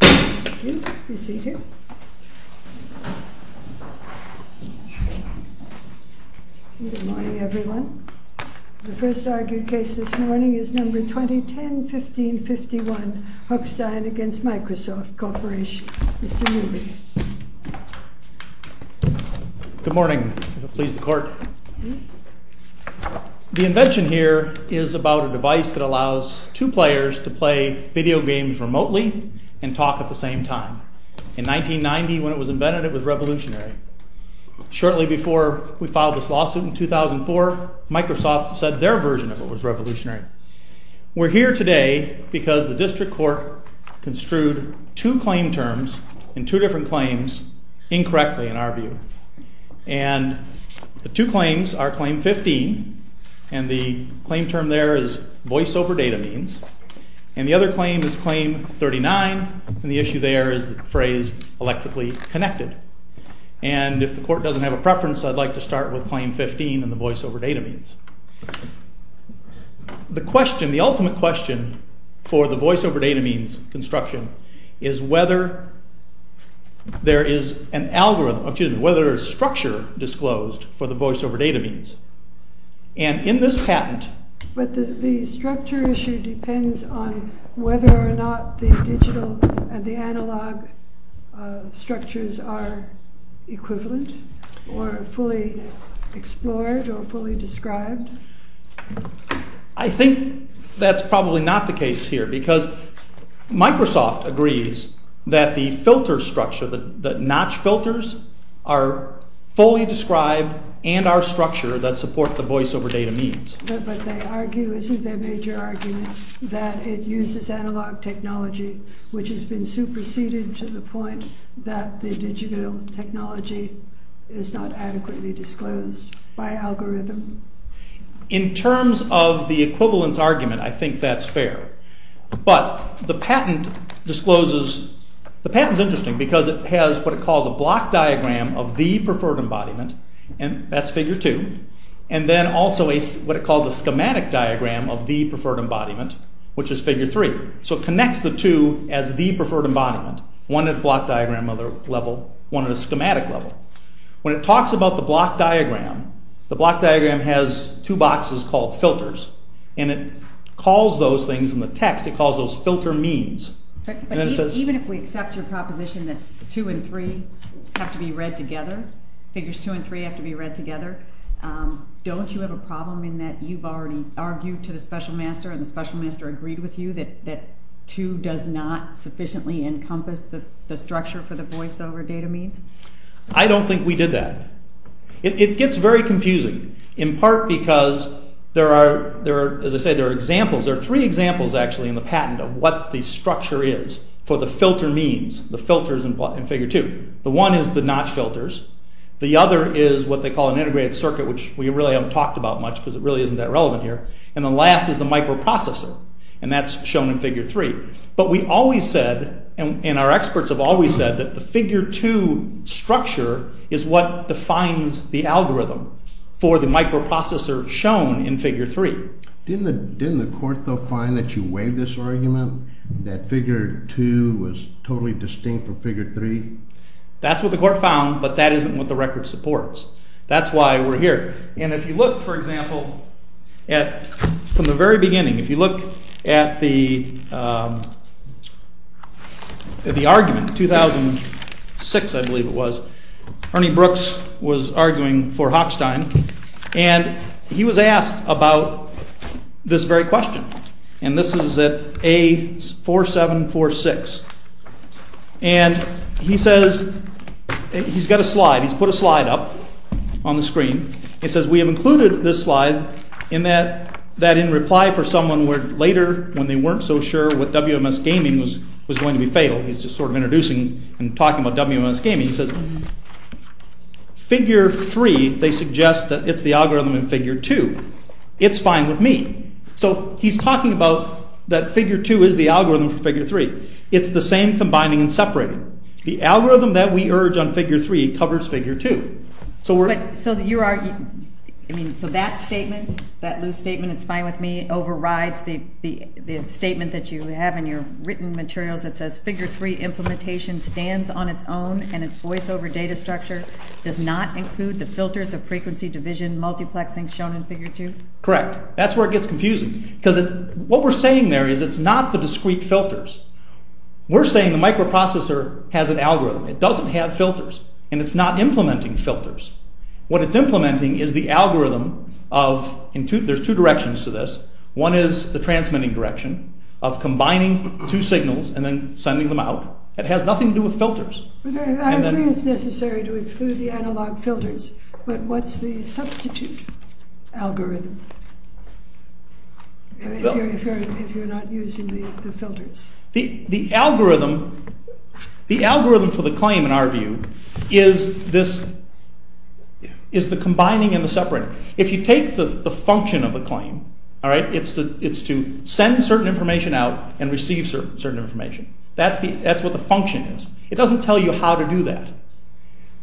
Good morning, everyone. The first argued case this morning is No. 2010-1551, HOCHSTEIN v. MICROSOFT CORP. Mr. Newby. Good morning. Please, the Court. The invention here is about a device that allows two players to play video games remotely and talk at the same time. In 1990, when it was invented, it was revolutionary. Shortly before we filed this lawsuit in 2004, Microsoft said their version of it was revolutionary. We're here today because the District Court construed two claim terms in two different claims incorrectly, in our view. And the two claims are Claim 15, and the claim term there is voice-over-data means, and the other claim is Claim 39, and the issue there is the phrase electrically connected. And if the Court doesn't have a preference, I'd like to start with Claim 15 and the voice-over-data means. The question, the ultimate question for the voice-over-data means construction is whether there is an algorithm, excuse me, whether there's structure disclosed for the voice-over-data means. And in this patent... But the structure issue depends on whether or not the digital and the analog structures are equivalent or fully explored or fully described. I think that's probably not the case here, because Microsoft agrees that the filter structure, the notch filters, are fully described and are structured that support the voice-over-data means. But they argue, isn't their major argument, that it uses analog technology, which has been superseded to the point that the digital technology is not adequately disclosed by algorithm? In terms of the equivalence argument, I think that's fair. But the patent discloses... The patent is interesting because it has what it calls a block diagram of the preferred embodiment, and that's Figure 2, and then also what it calls a schematic diagram of the preferred embodiment, which is Figure 3. So it connects the two as the preferred embodiment, one at a block diagram level, one at a schematic level. When it talks about the block diagram, the block diagram has two boxes called filters, and it calls those things in the text, it calls those filter means. Even if we accept your proposition that 2 and 3 have to be read together, Figures 2 and 3 have to be read together, don't you have a problem in that you've already argued to the special master and the special master agreed with you that 2 does not sufficiently encompass the structure for the voice-over-data I don't think we did that. It gets very confusing, in part because there are, as I say, there are examples, there are three examples actually in the patent of what the structure is for the filter means, the filters in Figure 2. The one is the notch filters, the other is what they call an integrated circuit, which we really haven't talked about much because it really isn't that relevant here, and the last is the microprocessor, and that's shown in Figure 3. But we always said, and our experts have always said, that the Figure 2 structure is what defines the algorithm for the microprocessor shown in Figure 3. Didn't the court though find that you waived this argument, that Figure 2 was totally distinct from Figure 3? That's what the court found, but that isn't what the record supports. That's why we're here. And if you look, for example, from the very beginning, if you look at the argument, 2006 I believe it was, Ernie Brooks was arguing for Hochstein, and he was asked about this very question, and this is at A4746, and he says, he's got a slide, he's put a slide up on the screen, he says, we have included this slide in that in reply for someone later when they weren't so sure what WMS Gaming was going to be fatal, he's just sort of introducing and talking about WMS Gaming, he says, Figure 3, they suggest that it's the algorithm in it's the same combining and separating. The algorithm that we urge on Figure 3 covers Figure 2. So that statement, that loose statement, it's fine with me, overrides the statement that you have in your written materials that says, Figure 3 implementation stands on its own and its voiceover data structure does not include the filters of frequency, division, multiplexing shown in Figure 2? Correct, that's where it gets confusing, because what we're saying there is it's not the discrete filters, we're saying the microprocessor has an algorithm, it doesn't have filters, and it's not implementing filters. What it's implementing is the algorithm of, there's two directions to this, one is the transmitting direction, of combining two signals and then sending them out, it has nothing to do with filters. I agree it's necessary to exclude the analog filters, but what's the substitute algorithm, if you're not using the filters? The algorithm for the claim, in our view, is the combining and the separating. If you take the function of a claim, it's to send certain information out and receive certain information. That's what the function is. It doesn't tell you how to do that.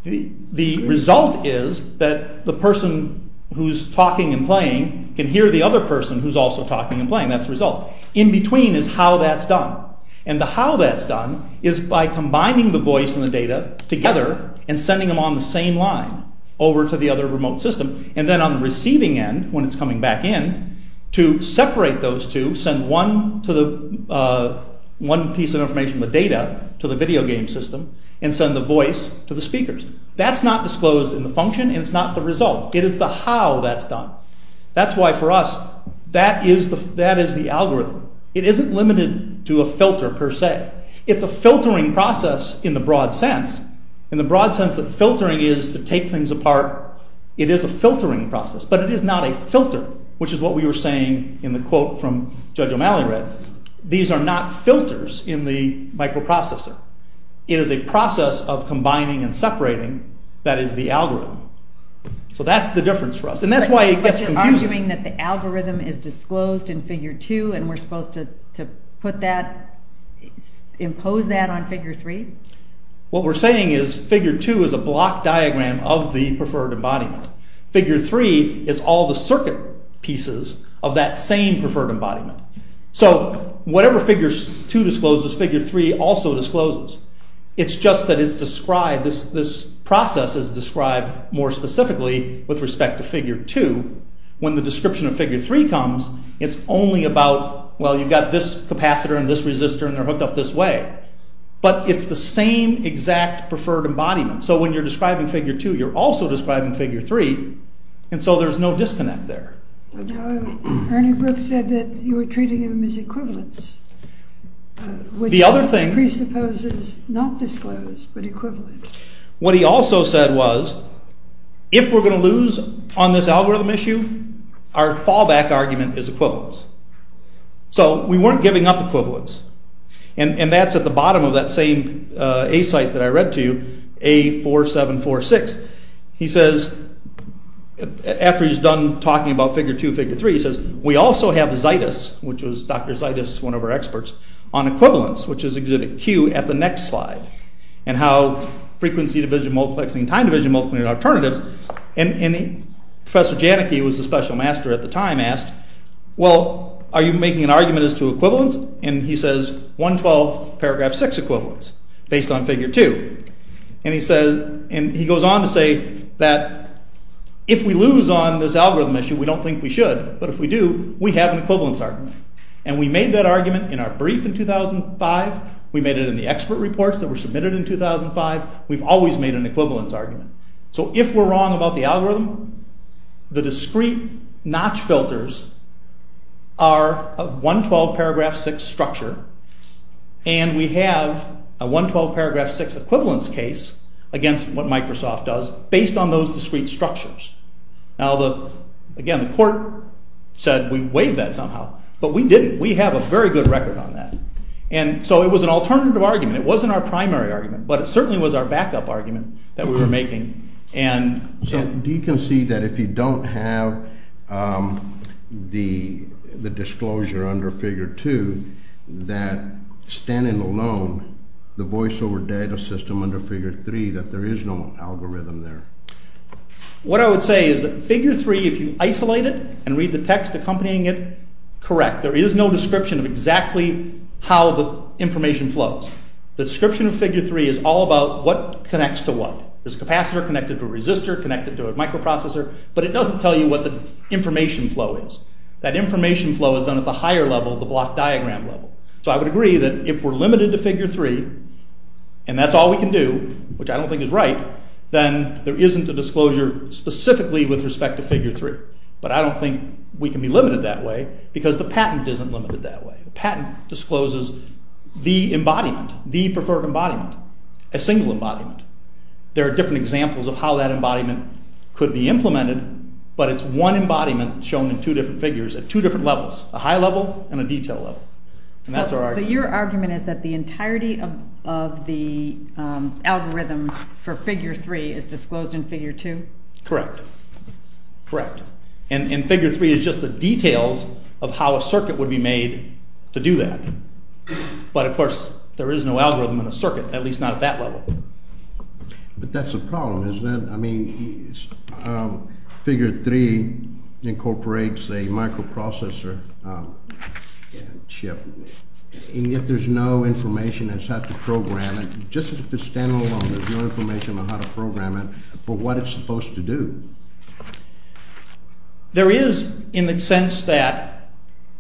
The result is that the person who's talking and playing can hear the other person who's also talking and playing, that's the result. In between is how that's done, and the how that's done is by combining the voice and the data together and sending them on the same line over to the other remote system, and then on the receiving end, when it's coming back in, to separate those two, send one piece of information, the data, to the video game system, and send the voice to the speakers. That's not disclosed in the function and it's not the result. It is the how that's done. That's why for us, that is the algorithm. It isn't limited to a filter per se. It's a filtering process in the broad sense. In the broad sense that filtering is to take things apart, it is a filtering process, but it is not a filter, which is what we were saying in the quote from Judge O'Malley read. These are not filters in the microprocessor. It is a process of combining and separating that is the algorithm. So that's the difference for us. But you're arguing that the algorithm is disclosed in Figure 2 and we're supposed to impose that on Figure 3? What we're saying is that Figure 2 is a block diagram of the preferred embodiment. Figure 3 is all the circuit pieces of that same preferred embodiment. So whatever Figure 2 discloses, Figure 3 also discloses. It's just that this process is described more specifically with respect to Figure 2. When the description of Figure 3 comes, it's only about, well, you've got this capacitor and this resistor and they're hooked up this way. But it's the same exact preferred embodiment. So when you're describing Figure 2, you're also describing Figure 3, and so there's no disconnect there. Ernie Brooks said that you were treating them as equivalents, which presupposes not disclosed, but equivalent. What he also said was, if we're going to lose on this algorithm issue, our fallback argument is equivalents. So we weren't giving up equivalents, and that's at the bottom of that same A site that I read to you, A4746. He says, after he's done talking about Figure 2 and Figure 3, he says, we also have Zaitis, which was Dr. Zaitis, one of our experts, on equivalents, which is exhibit Q at the next slide, and how frequency division multiplexing and time division multiplexing are alternatives. And Professor Janicki, who was the special master at the time, asked, well, are you making an argument as to equivalents? And he says, 112 paragraph 6 equivalents, based on Figure 2. And he goes on to say that if we lose on this algorithm issue, we don't think we should, but if we do, we have an equivalence argument. And we made that argument in our brief in 2005, we made it in the expert reports that were submitted in 2005, we've always made an equivalence argument. So if we're wrong about the algorithm, the discrete notch filters are a 112 paragraph 6 structure, and we have a 112 paragraph 6 equivalence case against what Microsoft does based on those discrete structures. Now, again, the court said we waived that somehow, but we didn't. We have a very good record on that. And so it was an alternative argument, it wasn't our primary argument, but it certainly was our backup argument that we were making. So do you concede that if you don't have the disclosure under Figure 2, that standing alone, the voiceover data system under Figure 3, that there is no algorithm there? What I would say is that Figure 3, if you isolate it and read the text accompanying it, correct, there is no description of exactly how the information flows. The description of Figure 3 is all about what connects to what. There's a capacitor connected to a resistor, connected to a microprocessor, but it doesn't tell you what the information flow is. That information flow is done at the higher level, the block diagram level. So I would agree that if we're limited to Figure 3, and that's all we can do, which I don't think is right, then there isn't a disclosure specifically with respect to Figure 3. But I don't think we can be limited that way because the patent isn't limited that way. The patent discloses the embodiment, the preferred embodiment, a single embodiment. There are different examples of how that embodiment could be implemented, but it's one embodiment shown in two different figures at two different levels, a high level and a detail level. So your argument is that the entirety of the algorithm for Figure 3 is disclosed in Figure 2? Correct. Correct. And Figure 3 is just the details of how a circuit would be made to do that. But of course, there is no algorithm in a circuit, at least not at that level. But that's a problem, isn't it? I mean, Figure 3 incorporates a microprocessor chip, and yet there's no information as to how to program it. Just as if it's standalone, there's no information on how to program it for what it's supposed to do. There is, in the sense that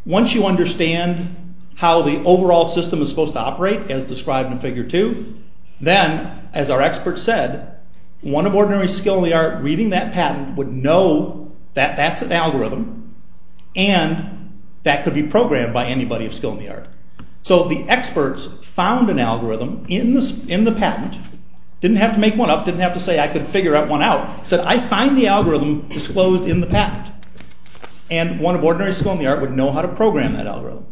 once you understand how the overall system is supposed to operate as described in Figure 2, then, as our expert said, one of ordinary skill in the art reading that patent would know that that's an algorithm, and that could be programmed by anybody of skill in the art. So the experts found an algorithm in the patent, didn't have to make one up, didn't have to say I could figure one out, said I find the algorithm disclosed in the patent. And one of ordinary skill in the art would know how to program that algorithm.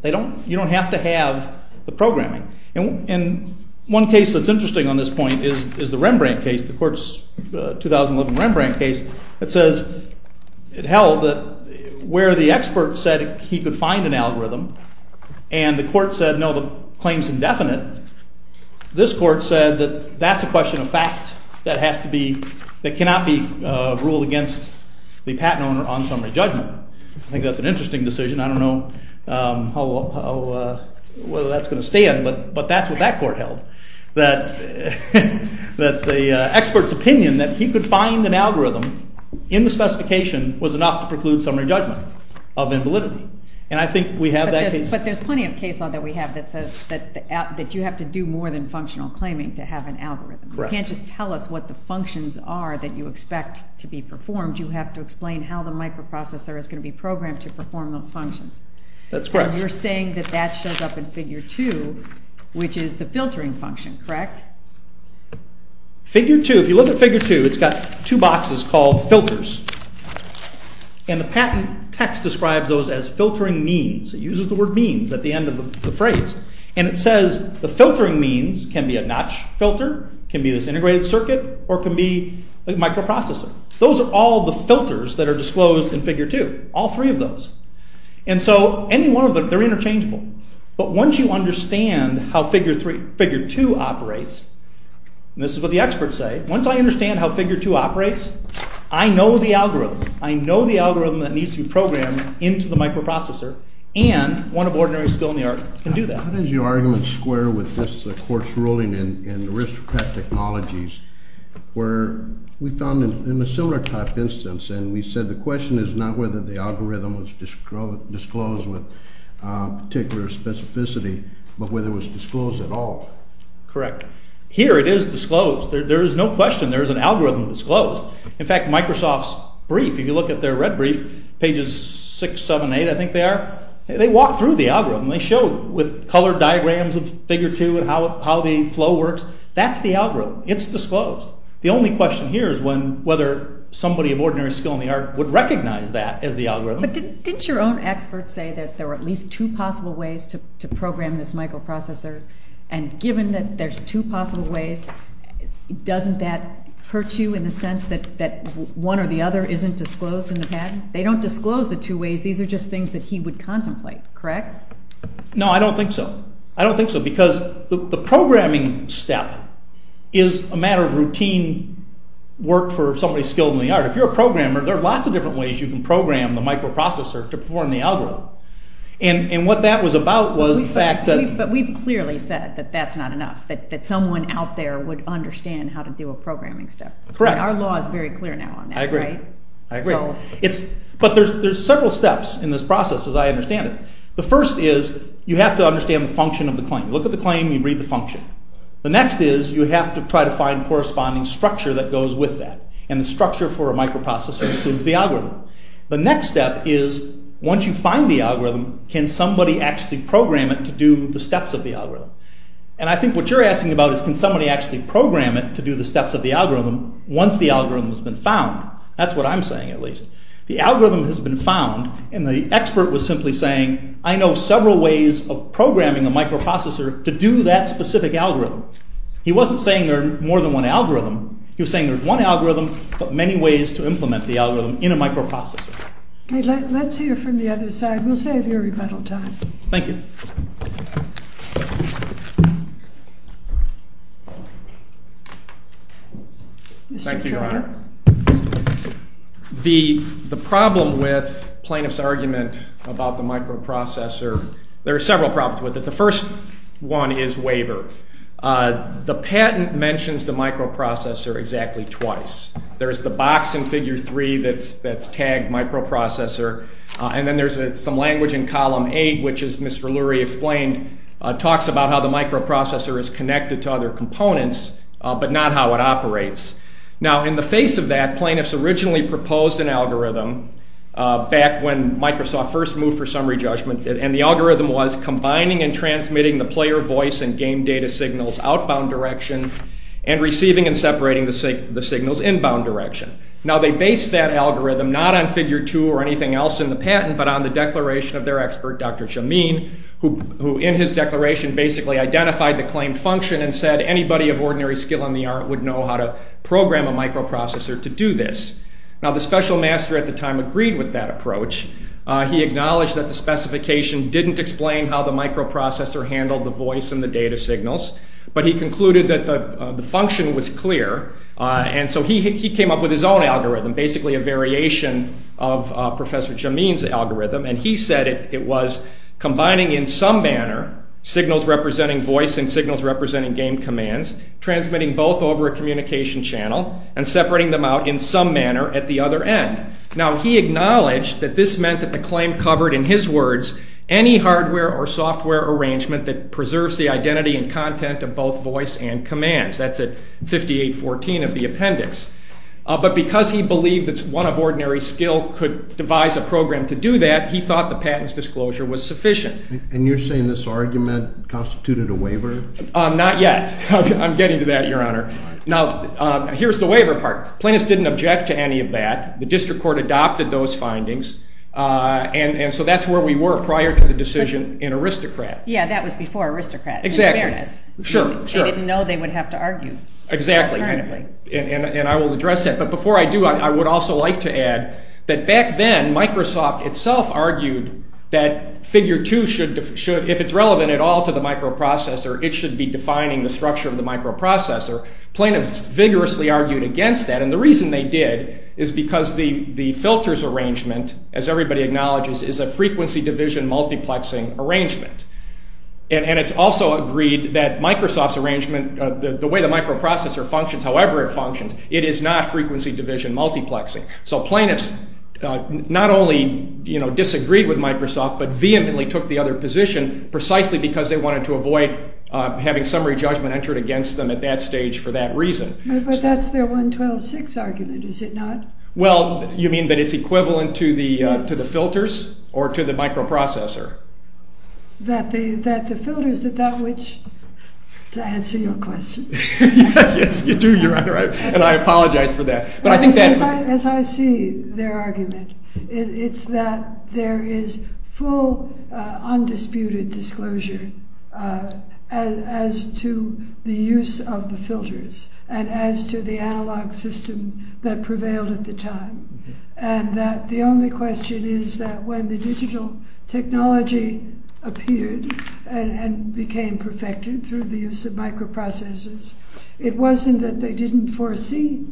You don't have to have the programming. And one case that's interesting on this point is the Rembrandt case, the court's 2011 Rembrandt case, that says it held that where the expert said he could find an algorithm, and the court said no, the claim's indefinite, this court said that that's a question of fact that cannot be ruled against the patent owner on summary judgment. I think that's an interesting decision. I don't know whether that's going to stand, but that's what that court held, that the expert's opinion that he could find an algorithm in the specification was enough to preclude summary judgment of invalidity. But there's plenty of case law that we have that says that you have to do more than functional claiming to have an algorithm. You can't just tell us what the functions are that you expect to be performed. You have to explain how the microprocessor is going to be programmed to perform those functions. That's correct. And you're saying that that shows up in Figure 2, which is the filtering function, correct? Figure 2, if you look at Figure 2, it's got two boxes called filters. And the patent text describes those as filtering means. It uses the word means at the end of the phrase. And it says the filtering means can be a notch filter, can be this integrated circuit, or can be a microprocessor. Those are all the filters that are disclosed in Figure 2, all three of those. And so any one of them, they're interchangeable. But once you understand how Figure 2 operates, and this is what the experts say, once I understand how Figure 2 operates, I know the algorithm. I know the algorithm that needs to be programmed into the microprocessor, and one of ordinary skill in the art can do that. How does your argument square with this court's ruling in the risk-prep technologies where we found in a similar type instance, and we said the question is not whether the algorithm was disclosed with particular specificity, but whether it was disclosed at all. Correct. Here it is disclosed. There is no question there is an algorithm disclosed. In fact, Microsoft's brief, if you look at their red brief, pages 6, 7, 8, I think they are, they walk through the algorithm. They show with colored diagrams of Figure 2 and how the flow works. That's the algorithm. It's disclosed. The only question here is whether somebody of ordinary skill in the art would recognize that as the algorithm. But didn't your own experts say that there were at least two possible ways to program this microprocessor? And given that there's two possible ways, doesn't that hurt you in the sense that one or the other isn't disclosed in the patent? They don't disclose the two ways. These are just things that he would contemplate, correct? No, I don't think so. I don't think so because the programming step is a matter of routine work for somebody skilled in the art. If you're a programmer, there are lots of different ways you can program the microprocessor to perform the algorithm. And what that was about was the fact that… But we've clearly said that that's not enough, that someone out there would understand how to do a programming step. Correct. Our law is very clear now on that, right? I agree. I agree. But there's several steps in this process as I understand it. The first is you have to understand the function of the claim. You look at the claim, you read the function. The next is you have to try to find corresponding structure that goes with that. And the structure for a microprocessor includes the algorithm. The next step is once you find the algorithm, can somebody actually program it to do the steps of the algorithm? And I think what you're asking about is can somebody actually program it to do the steps of the algorithm once the algorithm has been found? That's what I'm saying at least. The algorithm has been found and the expert was simply saying, I know several ways of programming a microprocessor to do that specific algorithm. He wasn't saying there are more than one algorithm. He was saying there's one algorithm but many ways to implement the algorithm in a microprocessor. Let's hear from the other side. We'll save your rebuttal time. Thank you. Thank you, Your Honor. The problem with plaintiff's argument about the microprocessor, there are several problems with it. The first one is waiver. The patent mentions the microprocessor exactly twice. There's the box in Figure 3 that's tagged microprocessor. And then there's some language in Column 8 which, as Mr. Lurie explained, talks about how the microprocessor is connected to other components but not how it operates. Now in the face of that, plaintiffs originally proposed an algorithm back when Microsoft first moved for summary judgment. And the algorithm was combining and transmitting the player voice and game data signals outbound direction and receiving and separating the signals inbound direction. Now they based that algorithm not on Figure 2 or anything else in the patent but on the declaration of their expert, Dr. Jameen, who in his declaration basically identified the claimed function and said anybody of ordinary skill in the art would know how to program a microprocessor to do this. Now the special master at the time agreed with that approach. He acknowledged that the specification didn't explain how the microprocessor handled the voice and the data signals. But he concluded that the function was clear. And so he came up with his own algorithm, basically a variation of Professor Jameen's algorithm. And he said it was combining in some manner signals representing voice and signals representing game commands, transmitting both over a communication channel and separating them out in some manner at the other end. Now he acknowledged that this meant that the claim covered, in his words, any hardware or software arrangement that preserves the identity and content of both voice and commands. That's at 5814 of the appendix. But because he believed that one of ordinary skill could devise a program to do that, he thought the patent's disclosure was sufficient. And you're saying this argument constituted a waiver? Not yet. I'm getting to that, Your Honor. Now here's the waiver part. Plaintiffs didn't object to any of that. The district court adopted those findings. And so that's where we were prior to the decision in Aristocrat. Yeah, that was before Aristocrat. Exactly. In fairness. Sure, sure. They didn't know they would have to argue. Exactly. Alternatively. And I will address that. But before I do, I would also like to add that back then Microsoft itself argued that figure two should, if it's relevant at all to the microprocessor, it should be defining the structure of the microprocessor. Plaintiffs vigorously argued against that. And the reason they did is because the filters arrangement, as everybody acknowledges, is a frequency division multiplexing arrangement. And it's also agreed that Microsoft's arrangement, the way the microprocessor functions, however it functions, it is not frequency division multiplexing. So plaintiffs not only disagreed with Microsoft but vehemently took the other position precisely because they wanted to avoid having summary judgment entered against them at that stage for that reason. But that's their 112.6 argument, is it not? Well, you mean that it's equivalent to the filters or to the microprocessor? That the filters that that which, to answer your question. Yes, you do. You're right. And I apologize for that. As I see their argument, it's that there is full undisputed disclosure as to the use of the filters and as to the analog system that prevailed at the time. And that the only question is that when the digital technology appeared and became perfected through the use of microprocessors, it wasn't that they didn't foresee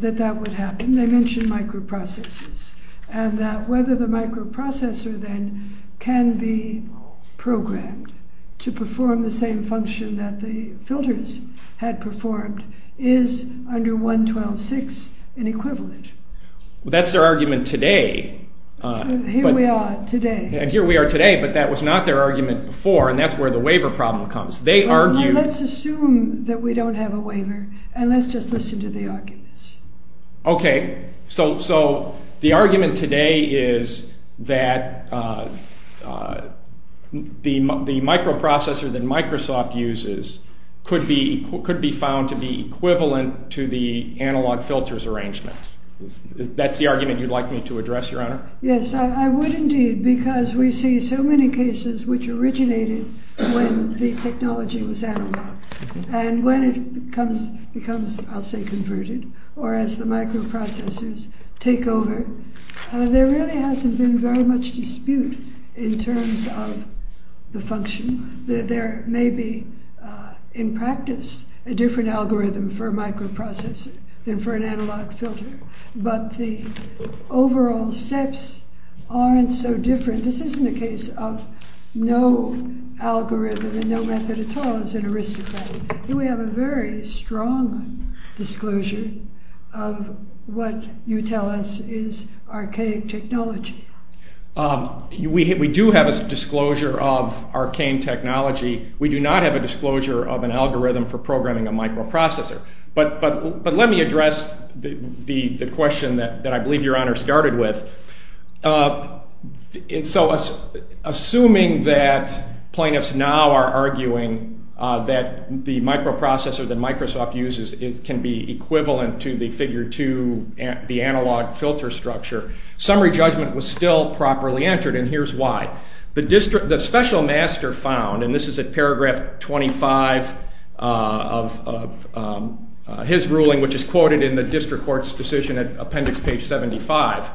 that that would happen. They mentioned microprocessors. And that whether the microprocessor then can be programmed to perform the same function that the filters had performed is under 112.6 an equivalent. Well, that's their argument today. Here we are today. And here we are today, but that was not their argument before. And that's where the waiver problem comes. Let's assume that we don't have a waiver, and let's just listen to the arguments. Okay. So the argument today is that the microprocessor that Microsoft uses could be found to be equivalent to the analog filters arrangement. That's the argument you'd like me to address, Your Honor? Yes, I would indeed, because we see so many cases which originated when the technology was analog. And when it becomes, I'll say, converted, or as the microprocessors take over, there really hasn't been very much dispute in terms of the function. There may be, in practice, a different algorithm for a microprocessor than for an analog filter. But the overall steps aren't so different. This isn't a case of no algorithm and no method at all. It's an aristocratic. Here we have a very strong disclosure of what you tell us is archaic technology. We do have a disclosure of archaic technology. We do not have a disclosure of an algorithm for programming a microprocessor. But let me address the question that I believe Your Honor started with. Assuming that plaintiffs now are arguing that the microprocessor that Microsoft uses can be equivalent to the figure 2, the analog filter structure, summary judgment was still properly entered, and here's why. The special master found, and this is at paragraph 25 of his ruling, which is quoted in the district court's decision at appendix page 75,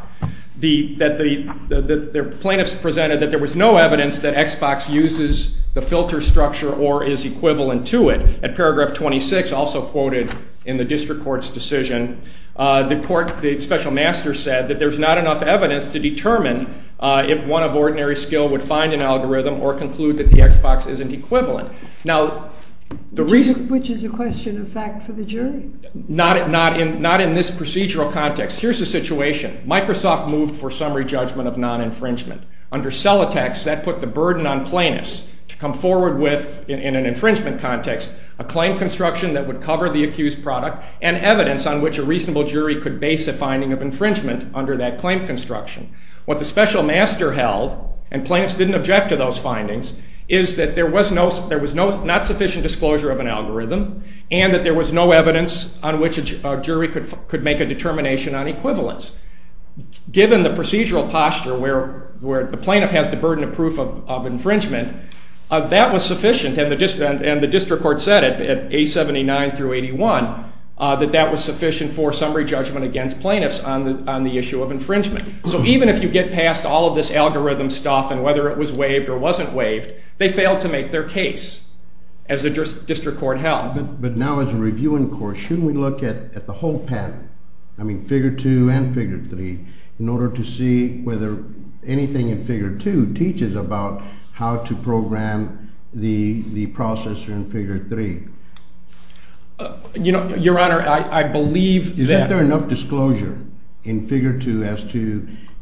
that the plaintiffs presented that there was no evidence that Xbox uses the filter structure or is equivalent to it. At paragraph 26, also quoted in the district court's decision, the special master said that there's not enough evidence to determine if one of ordinary skill would find an algorithm or conclude that the Xbox isn't equivalent. Which is a question of fact for the jury. Not in this procedural context. Here's the situation. Microsoft moved for summary judgment of non-infringement. Under Celatex, that put the burden on plaintiffs to come forward with, in an infringement context, a claim construction that would cover the accused product and evidence on which a reasonable jury could base a finding of infringement under that claim construction. What the special master held, and plaintiffs didn't object to those findings, is that there was not sufficient disclosure of an algorithm and that there was no evidence on which a jury could make a determination on equivalence. Given the procedural posture where the plaintiff has the burden of proof of infringement, that was sufficient, and the district court said it at A79 through 81, that that was sufficient for summary judgment against plaintiffs on the issue of infringement. So even if you get past all of this algorithm stuff and whether it was waived or wasn't waived, they failed to make their case, as the district court held. But now as a review in court, shouldn't we look at the whole patent, I mean, figure 2 and figure 3, in order to see whether anything in figure 2 teaches about how to program the processor in figure 3? Your Honor, I believe that...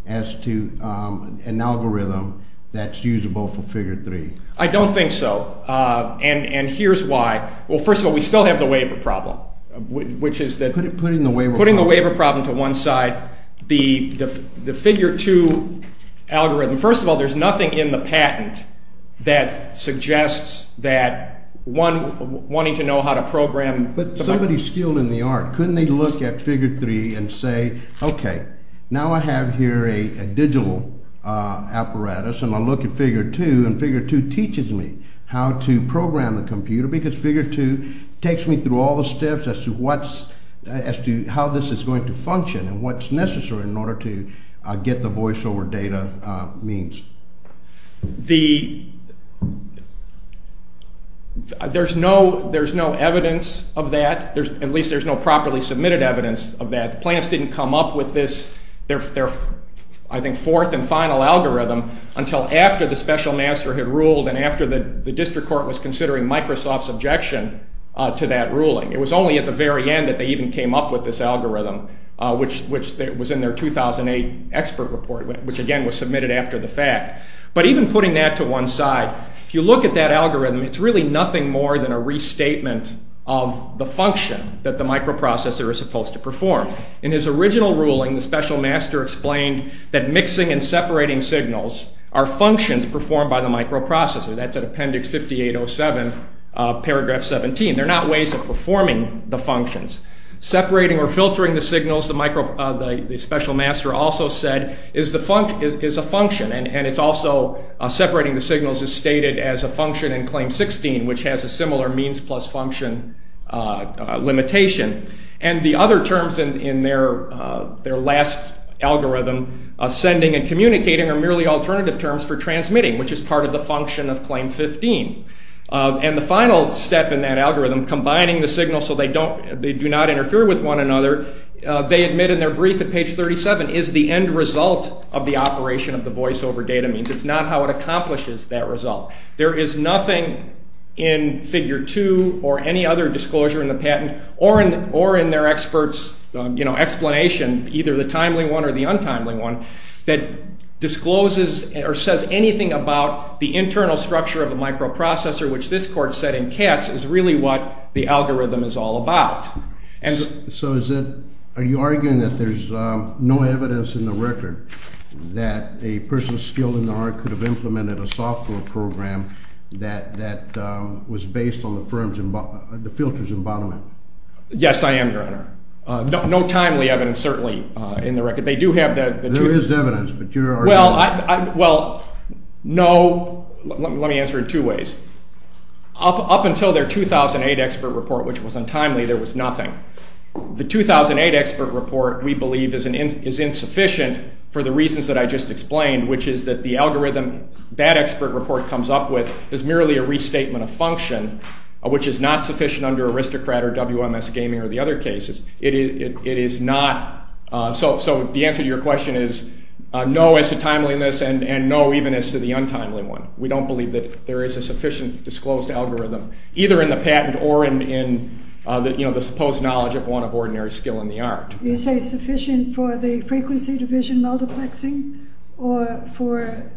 as to an algorithm that's usable for figure 3. I don't think so, and here's why. Well, first of all, we still have the waiver problem, which is that... Putting the waiver problem... Putting the waiver problem to one side, the figure 2 algorithm, first of all, there's nothing in the patent that suggests that one wanting to know how to program... But somebody skilled in the art, couldn't they look at figure 3 and say, okay, now I have here a digital apparatus, and I look at figure 2, and figure 2 teaches me how to program the computer, because figure 2 takes me through all the steps as to how this is going to function and what's necessary in order to get the voiceover data means. The... There's no evidence of that. At least there's no properly submitted evidence of that. The plaintiffs didn't come up with this, their, I think, fourth and final algorithm, until after the special master had ruled, and after the district court was considering Microsoft's objection to that ruling. It was only at the very end that they even came up with this algorithm, which was in their 2008 expert report, which again was submitted after the fact. But even putting that to one side, if you look at that algorithm, it's really nothing more than a restatement of the function that the microprocessor is supposed to perform. In his original ruling, the special master explained that mixing and separating signals are functions performed by the microprocessor. That's at appendix 5807, paragraph 17. They're not ways of performing the functions. Separating or filtering the signals, the special master also said, is a function, and it's also separating the signals is stated as a function in claim 16, which has a similar means plus function limitation. And the other terms in their last algorithm, sending and communicating, are merely alternative terms for transmitting, which is part of the function of claim 15. And the final step in that algorithm, combining the signals so they don't, they do not interfere with one another, they admit in their brief at page 37, is the end result of the operation of the voice over data means. It's not how it accomplishes that result. There is nothing in figure 2 or any other disclosure in the patent or in their expert's explanation, either the timely one or the untimely one, that discloses or says anything about the internal structure of the microprocessor, which this court said in Katz is really what the algorithm is all about. So is it, are you arguing that there's no evidence in the record that a person skilled in the art could have implemented a software program that was based on the filter's embodiment? Yes, I am, Your Honor. No timely evidence, certainly, in the record. They do have the two. There is evidence, but you're arguing. Well, no. Let me answer it two ways. Up until their 2008 expert report, which was untimely, there was nothing. The 2008 expert report, we believe, is insufficient for the reasons that I just explained, which is that the algorithm that expert report comes up with is merely a restatement of function, which is not sufficient under aristocrat or WMS gaming or the other cases. It is not, so the answer to your question is no as to timeliness and no even as to the untimely one. We don't believe that there is a sufficient disclosed algorithm, either in the patent or in the supposed knowledge of one of ordinary skill in the art. You say sufficient for the frequency division multiplexing or for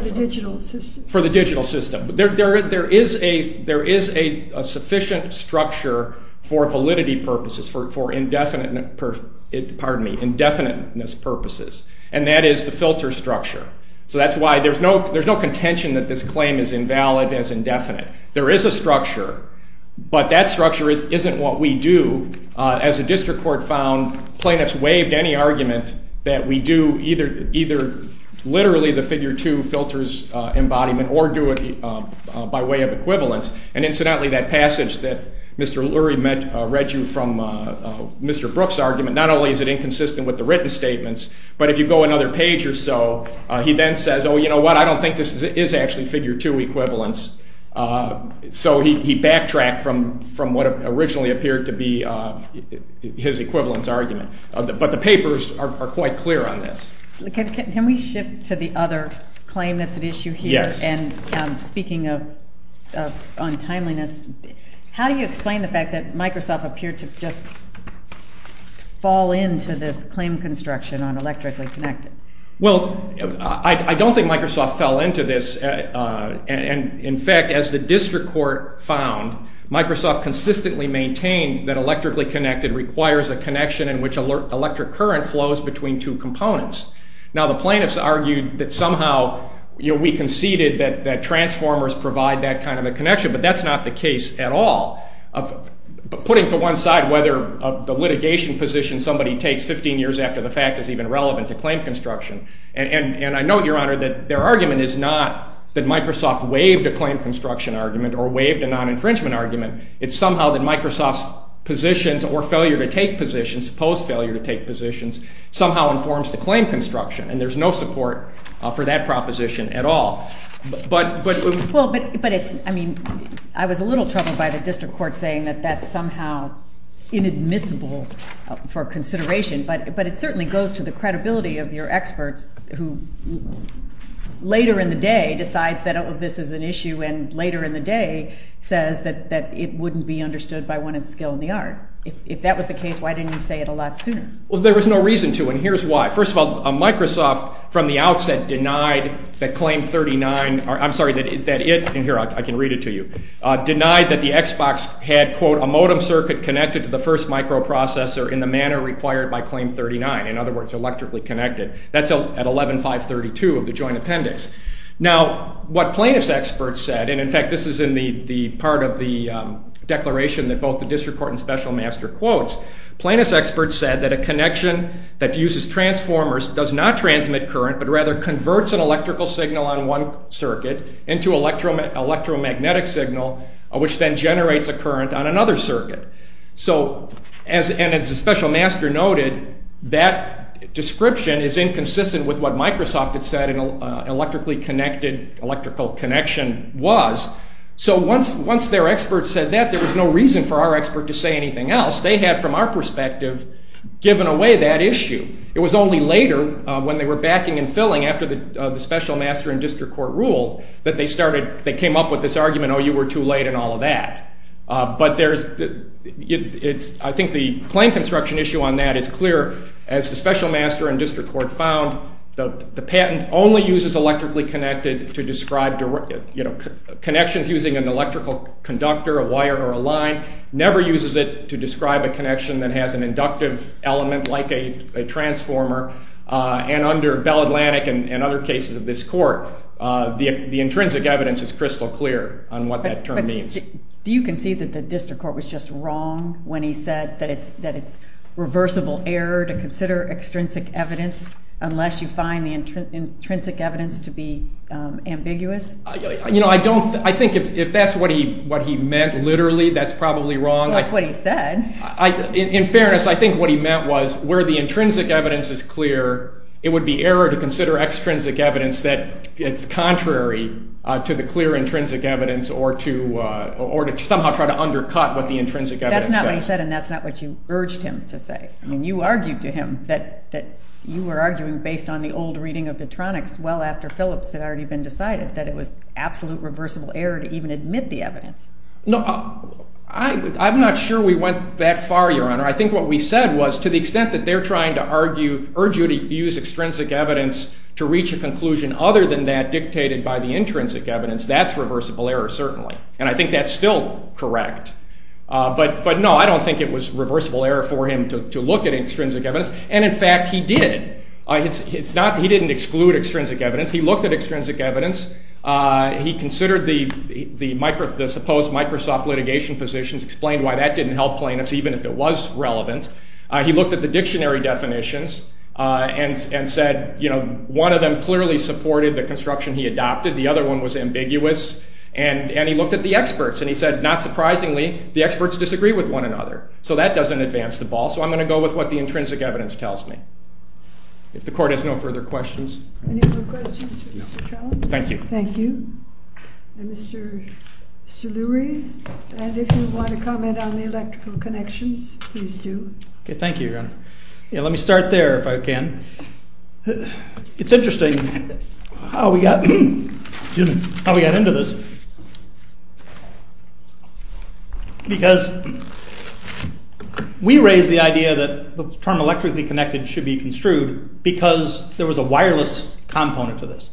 the digital system? For the digital system. There is a sufficient structure for validity purposes, for indefiniteness purposes, and that is the filter structure. So that's why there's no contention that this claim is invalid and is indefinite. There is a structure, but that structure isn't what we do. As a district court found, plaintiffs waived any argument that we do either literally the figure 2 filters embodiment or do it by way of equivalence. And incidentally, that passage that Mr. Lurie read you from Mr. Brooks' argument, not only is it inconsistent with the written statements, but if you go another page or so, he then says, oh, you know what, I don't think this is actually figure 2 equivalence. So he backtracked from what originally appeared to be his equivalence argument. But the papers are quite clear on this. Can we shift to the other claim that's at issue here? Yes. And speaking of untimeliness, how do you explain the fact that Microsoft appeared to just fall into this claim construction on electrically connected? Well, I don't think Microsoft fell into this. In fact, as the district court found, Microsoft consistently maintained that electrically connected requires a connection in which electric current flows between two components. Now, the plaintiffs argued that somehow we conceded that transformers provide that kind of a connection, but that's not the case at all. Putting to one side whether the litigation position somebody takes 15 years after the fact is even relevant to claim construction. And I note, Your Honor, that their argument is not that Microsoft waived a claim construction argument or waived a non-infringement argument. It's somehow that Microsoft's positions or failure to take positions, supposed failure to take positions, somehow informs the claim construction. And there's no support for that proposition at all. Well, but it's, I mean, I was a little troubled by the district court saying that that's somehow inadmissible for consideration, but it certainly goes to the credibility of your experts who later in the day decides that this is an issue and later in the day says that it wouldn't be understood by one of skill in the art. If that was the case, why didn't you say it a lot sooner? Well, there was no reason to, and here's why. First of all, Microsoft from the outset denied that claim 39, I'm sorry, that it, and here I can read it to you, denied that the Xbox had, quote, a modem circuit connected to the first microprocessor in the manner required by claim 39. In other words, electrically connected. That's at 11-532 of the joint appendix. Now, what plaintiff's experts said, and in fact this is in the part of the declaration that both the district court and special master quotes, plaintiff's experts said that a connection that uses transformers does not transmit current, but rather converts an electrical signal on one circuit into an electromagnetic signal, which then generates a current on another circuit. So, and as the special master noted, that description is inconsistent with what Microsoft had said an electrically connected, electrical connection was, so once their experts said that, there was no reason for our expert to say anything else. They had, from our perspective, given away that issue. It was only later, when they were backing and filling after the special master and district court ruled, that they started, they came up with this argument, oh, you were too late and all of that. But there's, it's, I think the claim construction issue on that is clear, as the special master and district court found, the patent only uses electrically connected to describe, you know, connections using an electrical conductor, a wire or a line, never uses it to describe a connection that has an inductive element like a transformer, and under Bell Atlantic and other cases of this court, the intrinsic evidence is crystal clear on what that term means. But do you concede that the district court was just wrong when he said that it's, that it's reversible error to consider extrinsic evidence unless you find the intrinsic evidence to be ambiguous? You know, I don't, I think if that's what he, what he meant literally, that's probably wrong. That's what he said. In fairness, I think what he meant was, where the intrinsic evidence is clear, it would be error to consider extrinsic evidence that it's contrary to the clear intrinsic evidence or to, or to somehow try to undercut what the intrinsic evidence says. That's not what he said, and that's not what you urged him to say. I mean, you argued to him that, that you were arguing based on the old reading of Petronix, well after Phillips had already been decided, that it was absolute reversible error to even admit the evidence. No, I, I'm not sure we went that far, Your Honor. I think what we said was to the extent that they're trying to argue, urge you to use extrinsic evidence to reach a conclusion other than that dictated by the intrinsic evidence, that's reversible error certainly, and I think that's still correct. But, but no, I don't think it was reversible error for him to, to look at extrinsic evidence, and in fact he did. It's not, he didn't exclude extrinsic evidence, he looked at extrinsic evidence, he considered the, the Microsoft, the supposed Microsoft litigation positions, explained why that didn't help plaintiffs even if it was relevant. He looked at the dictionary definitions and, and said, you know, one of them clearly supported the construction he adopted, the other one was ambiguous, and, and he looked at the experts, and he said, not surprisingly, the experts disagree with one another. So that doesn't advance the ball. So I'm going to go with what the intrinsic evidence tells me. If the Court has no further questions. Any more questions for Mr. Trout? Thank you. Thank you. Mr., Mr. Lurie, and if you want to comment on the electrical connections, please do. Okay, thank you, Your Honor. Yeah, let me start there if I can. It's interesting how we got, how we got into this. Because we raised the idea that the term electrically connected should be construed because there was a wireless component to this.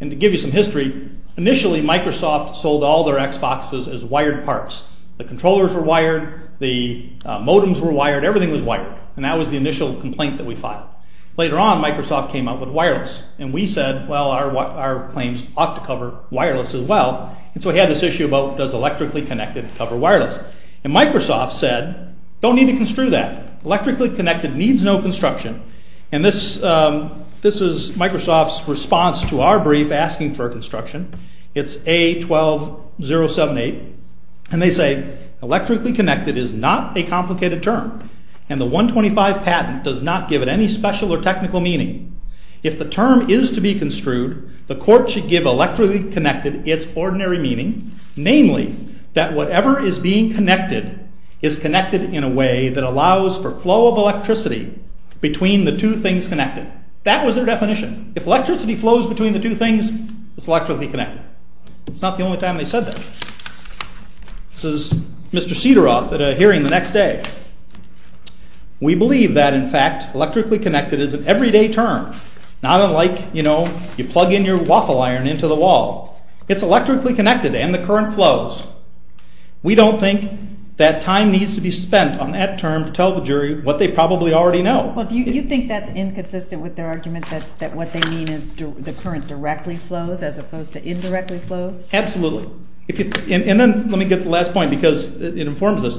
And to give you some history, initially Microsoft sold all their Xboxes as wired parts. The controllers were wired, the modems were wired, everything was wired. And that was the initial complaint that we filed. Later on, Microsoft came up with wireless. And we said, well, our, our claims ought to cover wireless as well. And so we had this issue about does electrically connected cover wireless. And Microsoft said, don't need to construe that. Electrically connected needs no construction. And this, this is Microsoft's response to our brief asking for construction. It's A12078. And they say, electrically connected is not a complicated term. And the 125 patent does not give it any special or technical meaning. If the term is to be construed, the court should give electrically connected its ordinary meaning, namely that whatever is being connected is connected in a way that allows for flow of electricity between the two things connected. That was their definition. If electricity flows between the two things, it's electrically connected. It's not the only time they said that. This is Mr. Cedaroth at a hearing the next day. We believe that, in fact, electrically connected is an everyday term. Not unlike, you know, you plug in your waffle iron into the wall. It's electrically connected and the current flows. We don't think that time needs to be spent on that term to tell the jury what they probably already know. Well, do you think that's inconsistent with their argument that, that what they mean is the current directly flows as opposed to indirectly flows? Absolutely. And then let me get to the last point because it informs us.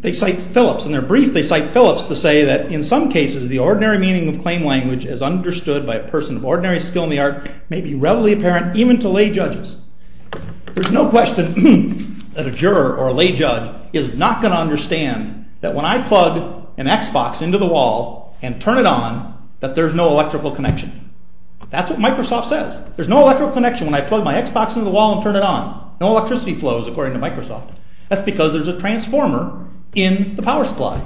They cite Phillips. In their brief, they cite Phillips to say that, in some cases, the ordinary meaning of claim language as understood by a person of ordinary skill in the art may be readily apparent even to lay judges. There's no question that a juror or a lay judge is not going to understand that when I plug an Xbox into the wall and turn it on, that there's no electrical connection. That's what Microsoft says. There's no electrical connection when I plug my Xbox into the wall and turn it on. No electricity flows, according to Microsoft. That's because there's a transformer in the power supply.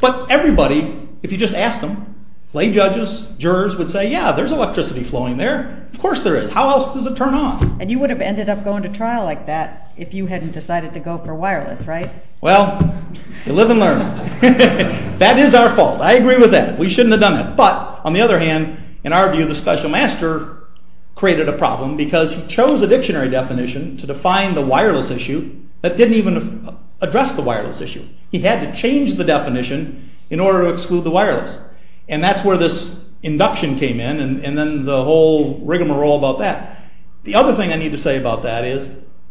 But everybody, if you just asked them, lay judges, jurors would say, yeah, there's electricity flowing there. Of course there is. How else does it turn on? And you would have ended up going to trial like that if you hadn't decided to go for wireless, right? Well, you live and learn. That is our fault. I agree with that. We shouldn't have done that. But, on the other hand, in our view, the special master created a problem because he chose a dictionary definition to define the wireless issue that didn't even address the wireless issue. He had to change the definition in order to exclude the wireless. And that's where this induction came in and then the whole rigmarole about that. The other thing I need to say about that is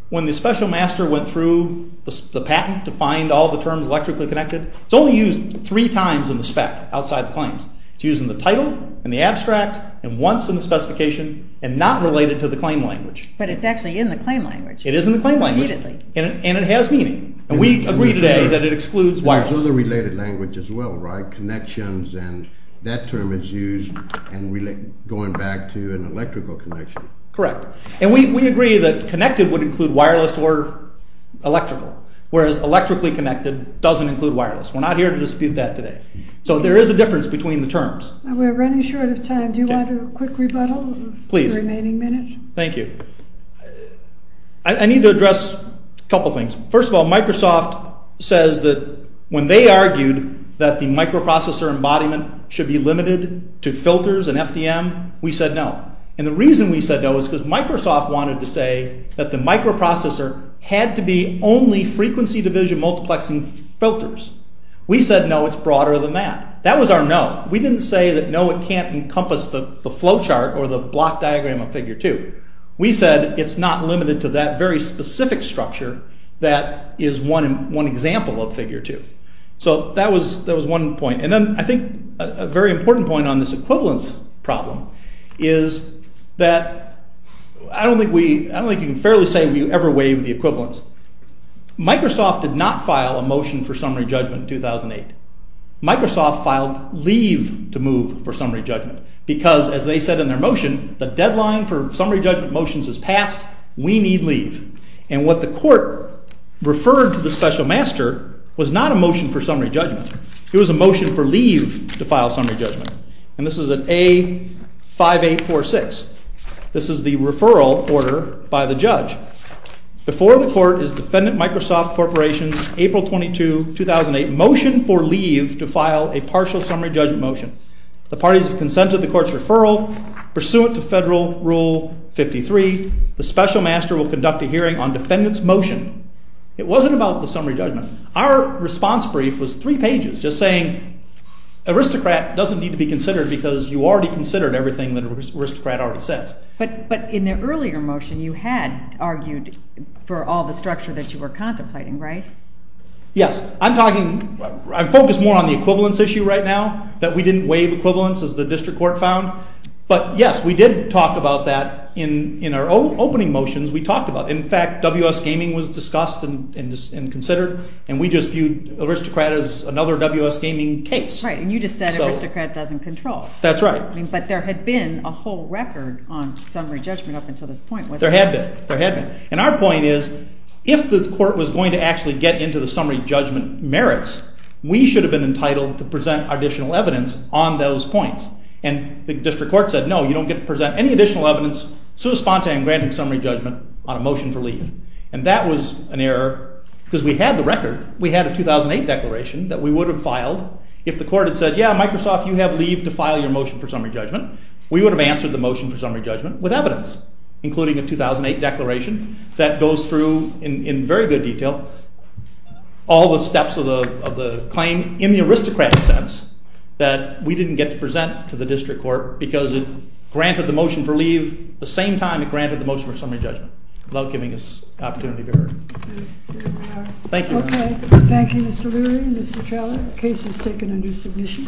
when the special master went through the patent to find all the terms electrically connected, it's only used three times in the spec outside the claims. It's used in the title, in the abstract, and once in the specification, and not related to the claim language. But it's actually in the claim language. It is in the claim language. Immediately. And it has meaning. And we agree today that it excludes wireless. There's other related language as well, right? Connections and that term is used and going back to an electrical connection. Correct. And we agree that connected would include wireless or electrical, whereas electrically connected doesn't include wireless. We're not here to dispute that today. So there is a difference between the terms. We're running short of time. Do you want a quick rebuttal for the remaining minute? Please. Thank you. I need to address a couple of things. First of all, Microsoft says that when they argued that the microprocessor embodiment should be limited to filters and FDM, we said no. And the reason we said no is because Microsoft wanted to say that the microprocessor had to be only frequency division multiplexing filters. We said no, it's broader than that. That was our no. We didn't say that no, it can't encompass the flow chart or the block diagram of Figure 2. We said it's not limited to that very specific structure that is one example of Figure 2. So that was one point. And then I think a very important point on this equivalence problem is that I don't think you can fairly say we ever waived the equivalence. Microsoft did not file a motion for summary judgment in 2008. Microsoft filed leave to move for summary judgment because, as they said in their motion, the deadline for summary judgment motions is past. We need leave. And what the court referred to the special master was not a motion for summary judgment. It was a motion for leave to file summary judgment. And this is an A5846. This is the referral order by the judge. Before the court is Defendant Microsoft Corporation's April 22, 2008 motion for leave to file a partial summary judgment motion. The parties have consented to the court's referral. Pursuant to Federal Rule 53, the special master will conduct a hearing on defendant's motion. It wasn't about the summary judgment. Our response brief was three pages just saying aristocrat doesn't need to be considered because you already considered everything that aristocrat already says. But in the earlier motion you had argued for all the structure that you were contemplating, right? Yes. I'm talkingóI'm focused more on the equivalence issue right now, that we didn't waive equivalence as the district court found. But, yes, we did talk about that in our opening motions. We talked about it. In fact, WS Gaming was discussed and considered, and we just viewed aristocrat as another WS Gaming case. Right, and you just said aristocrat doesn't control. That's right. But there had been a whole record on summary judgment up until this point, wasn't there? There had been. And our point is if the court was going to actually get into the summary judgment merits, we should have been entitled to present additional evidence on those points. And the district court said, no, you don't get to present any additional evidence so spontaneously in granting summary judgment on a motion for leave. And that was an error because we had the record. We had a 2008 declaration that we would have filed. If the court had said, yeah, Microsoft, you have leave to file your motion for summary judgment, we would have answered the motion for summary judgment with evidence, including a 2008 declaration that goes through in very good detail all the steps of the claim in the aristocratic sense that we didn't get to present to the district court because it granted the motion for leave the same time it granted the motion for summary judgment without giving us an opportunity to be heard. Thank you. Okay. Thank you, Mr. Leary and Mr. Trella. The case is taken under submission.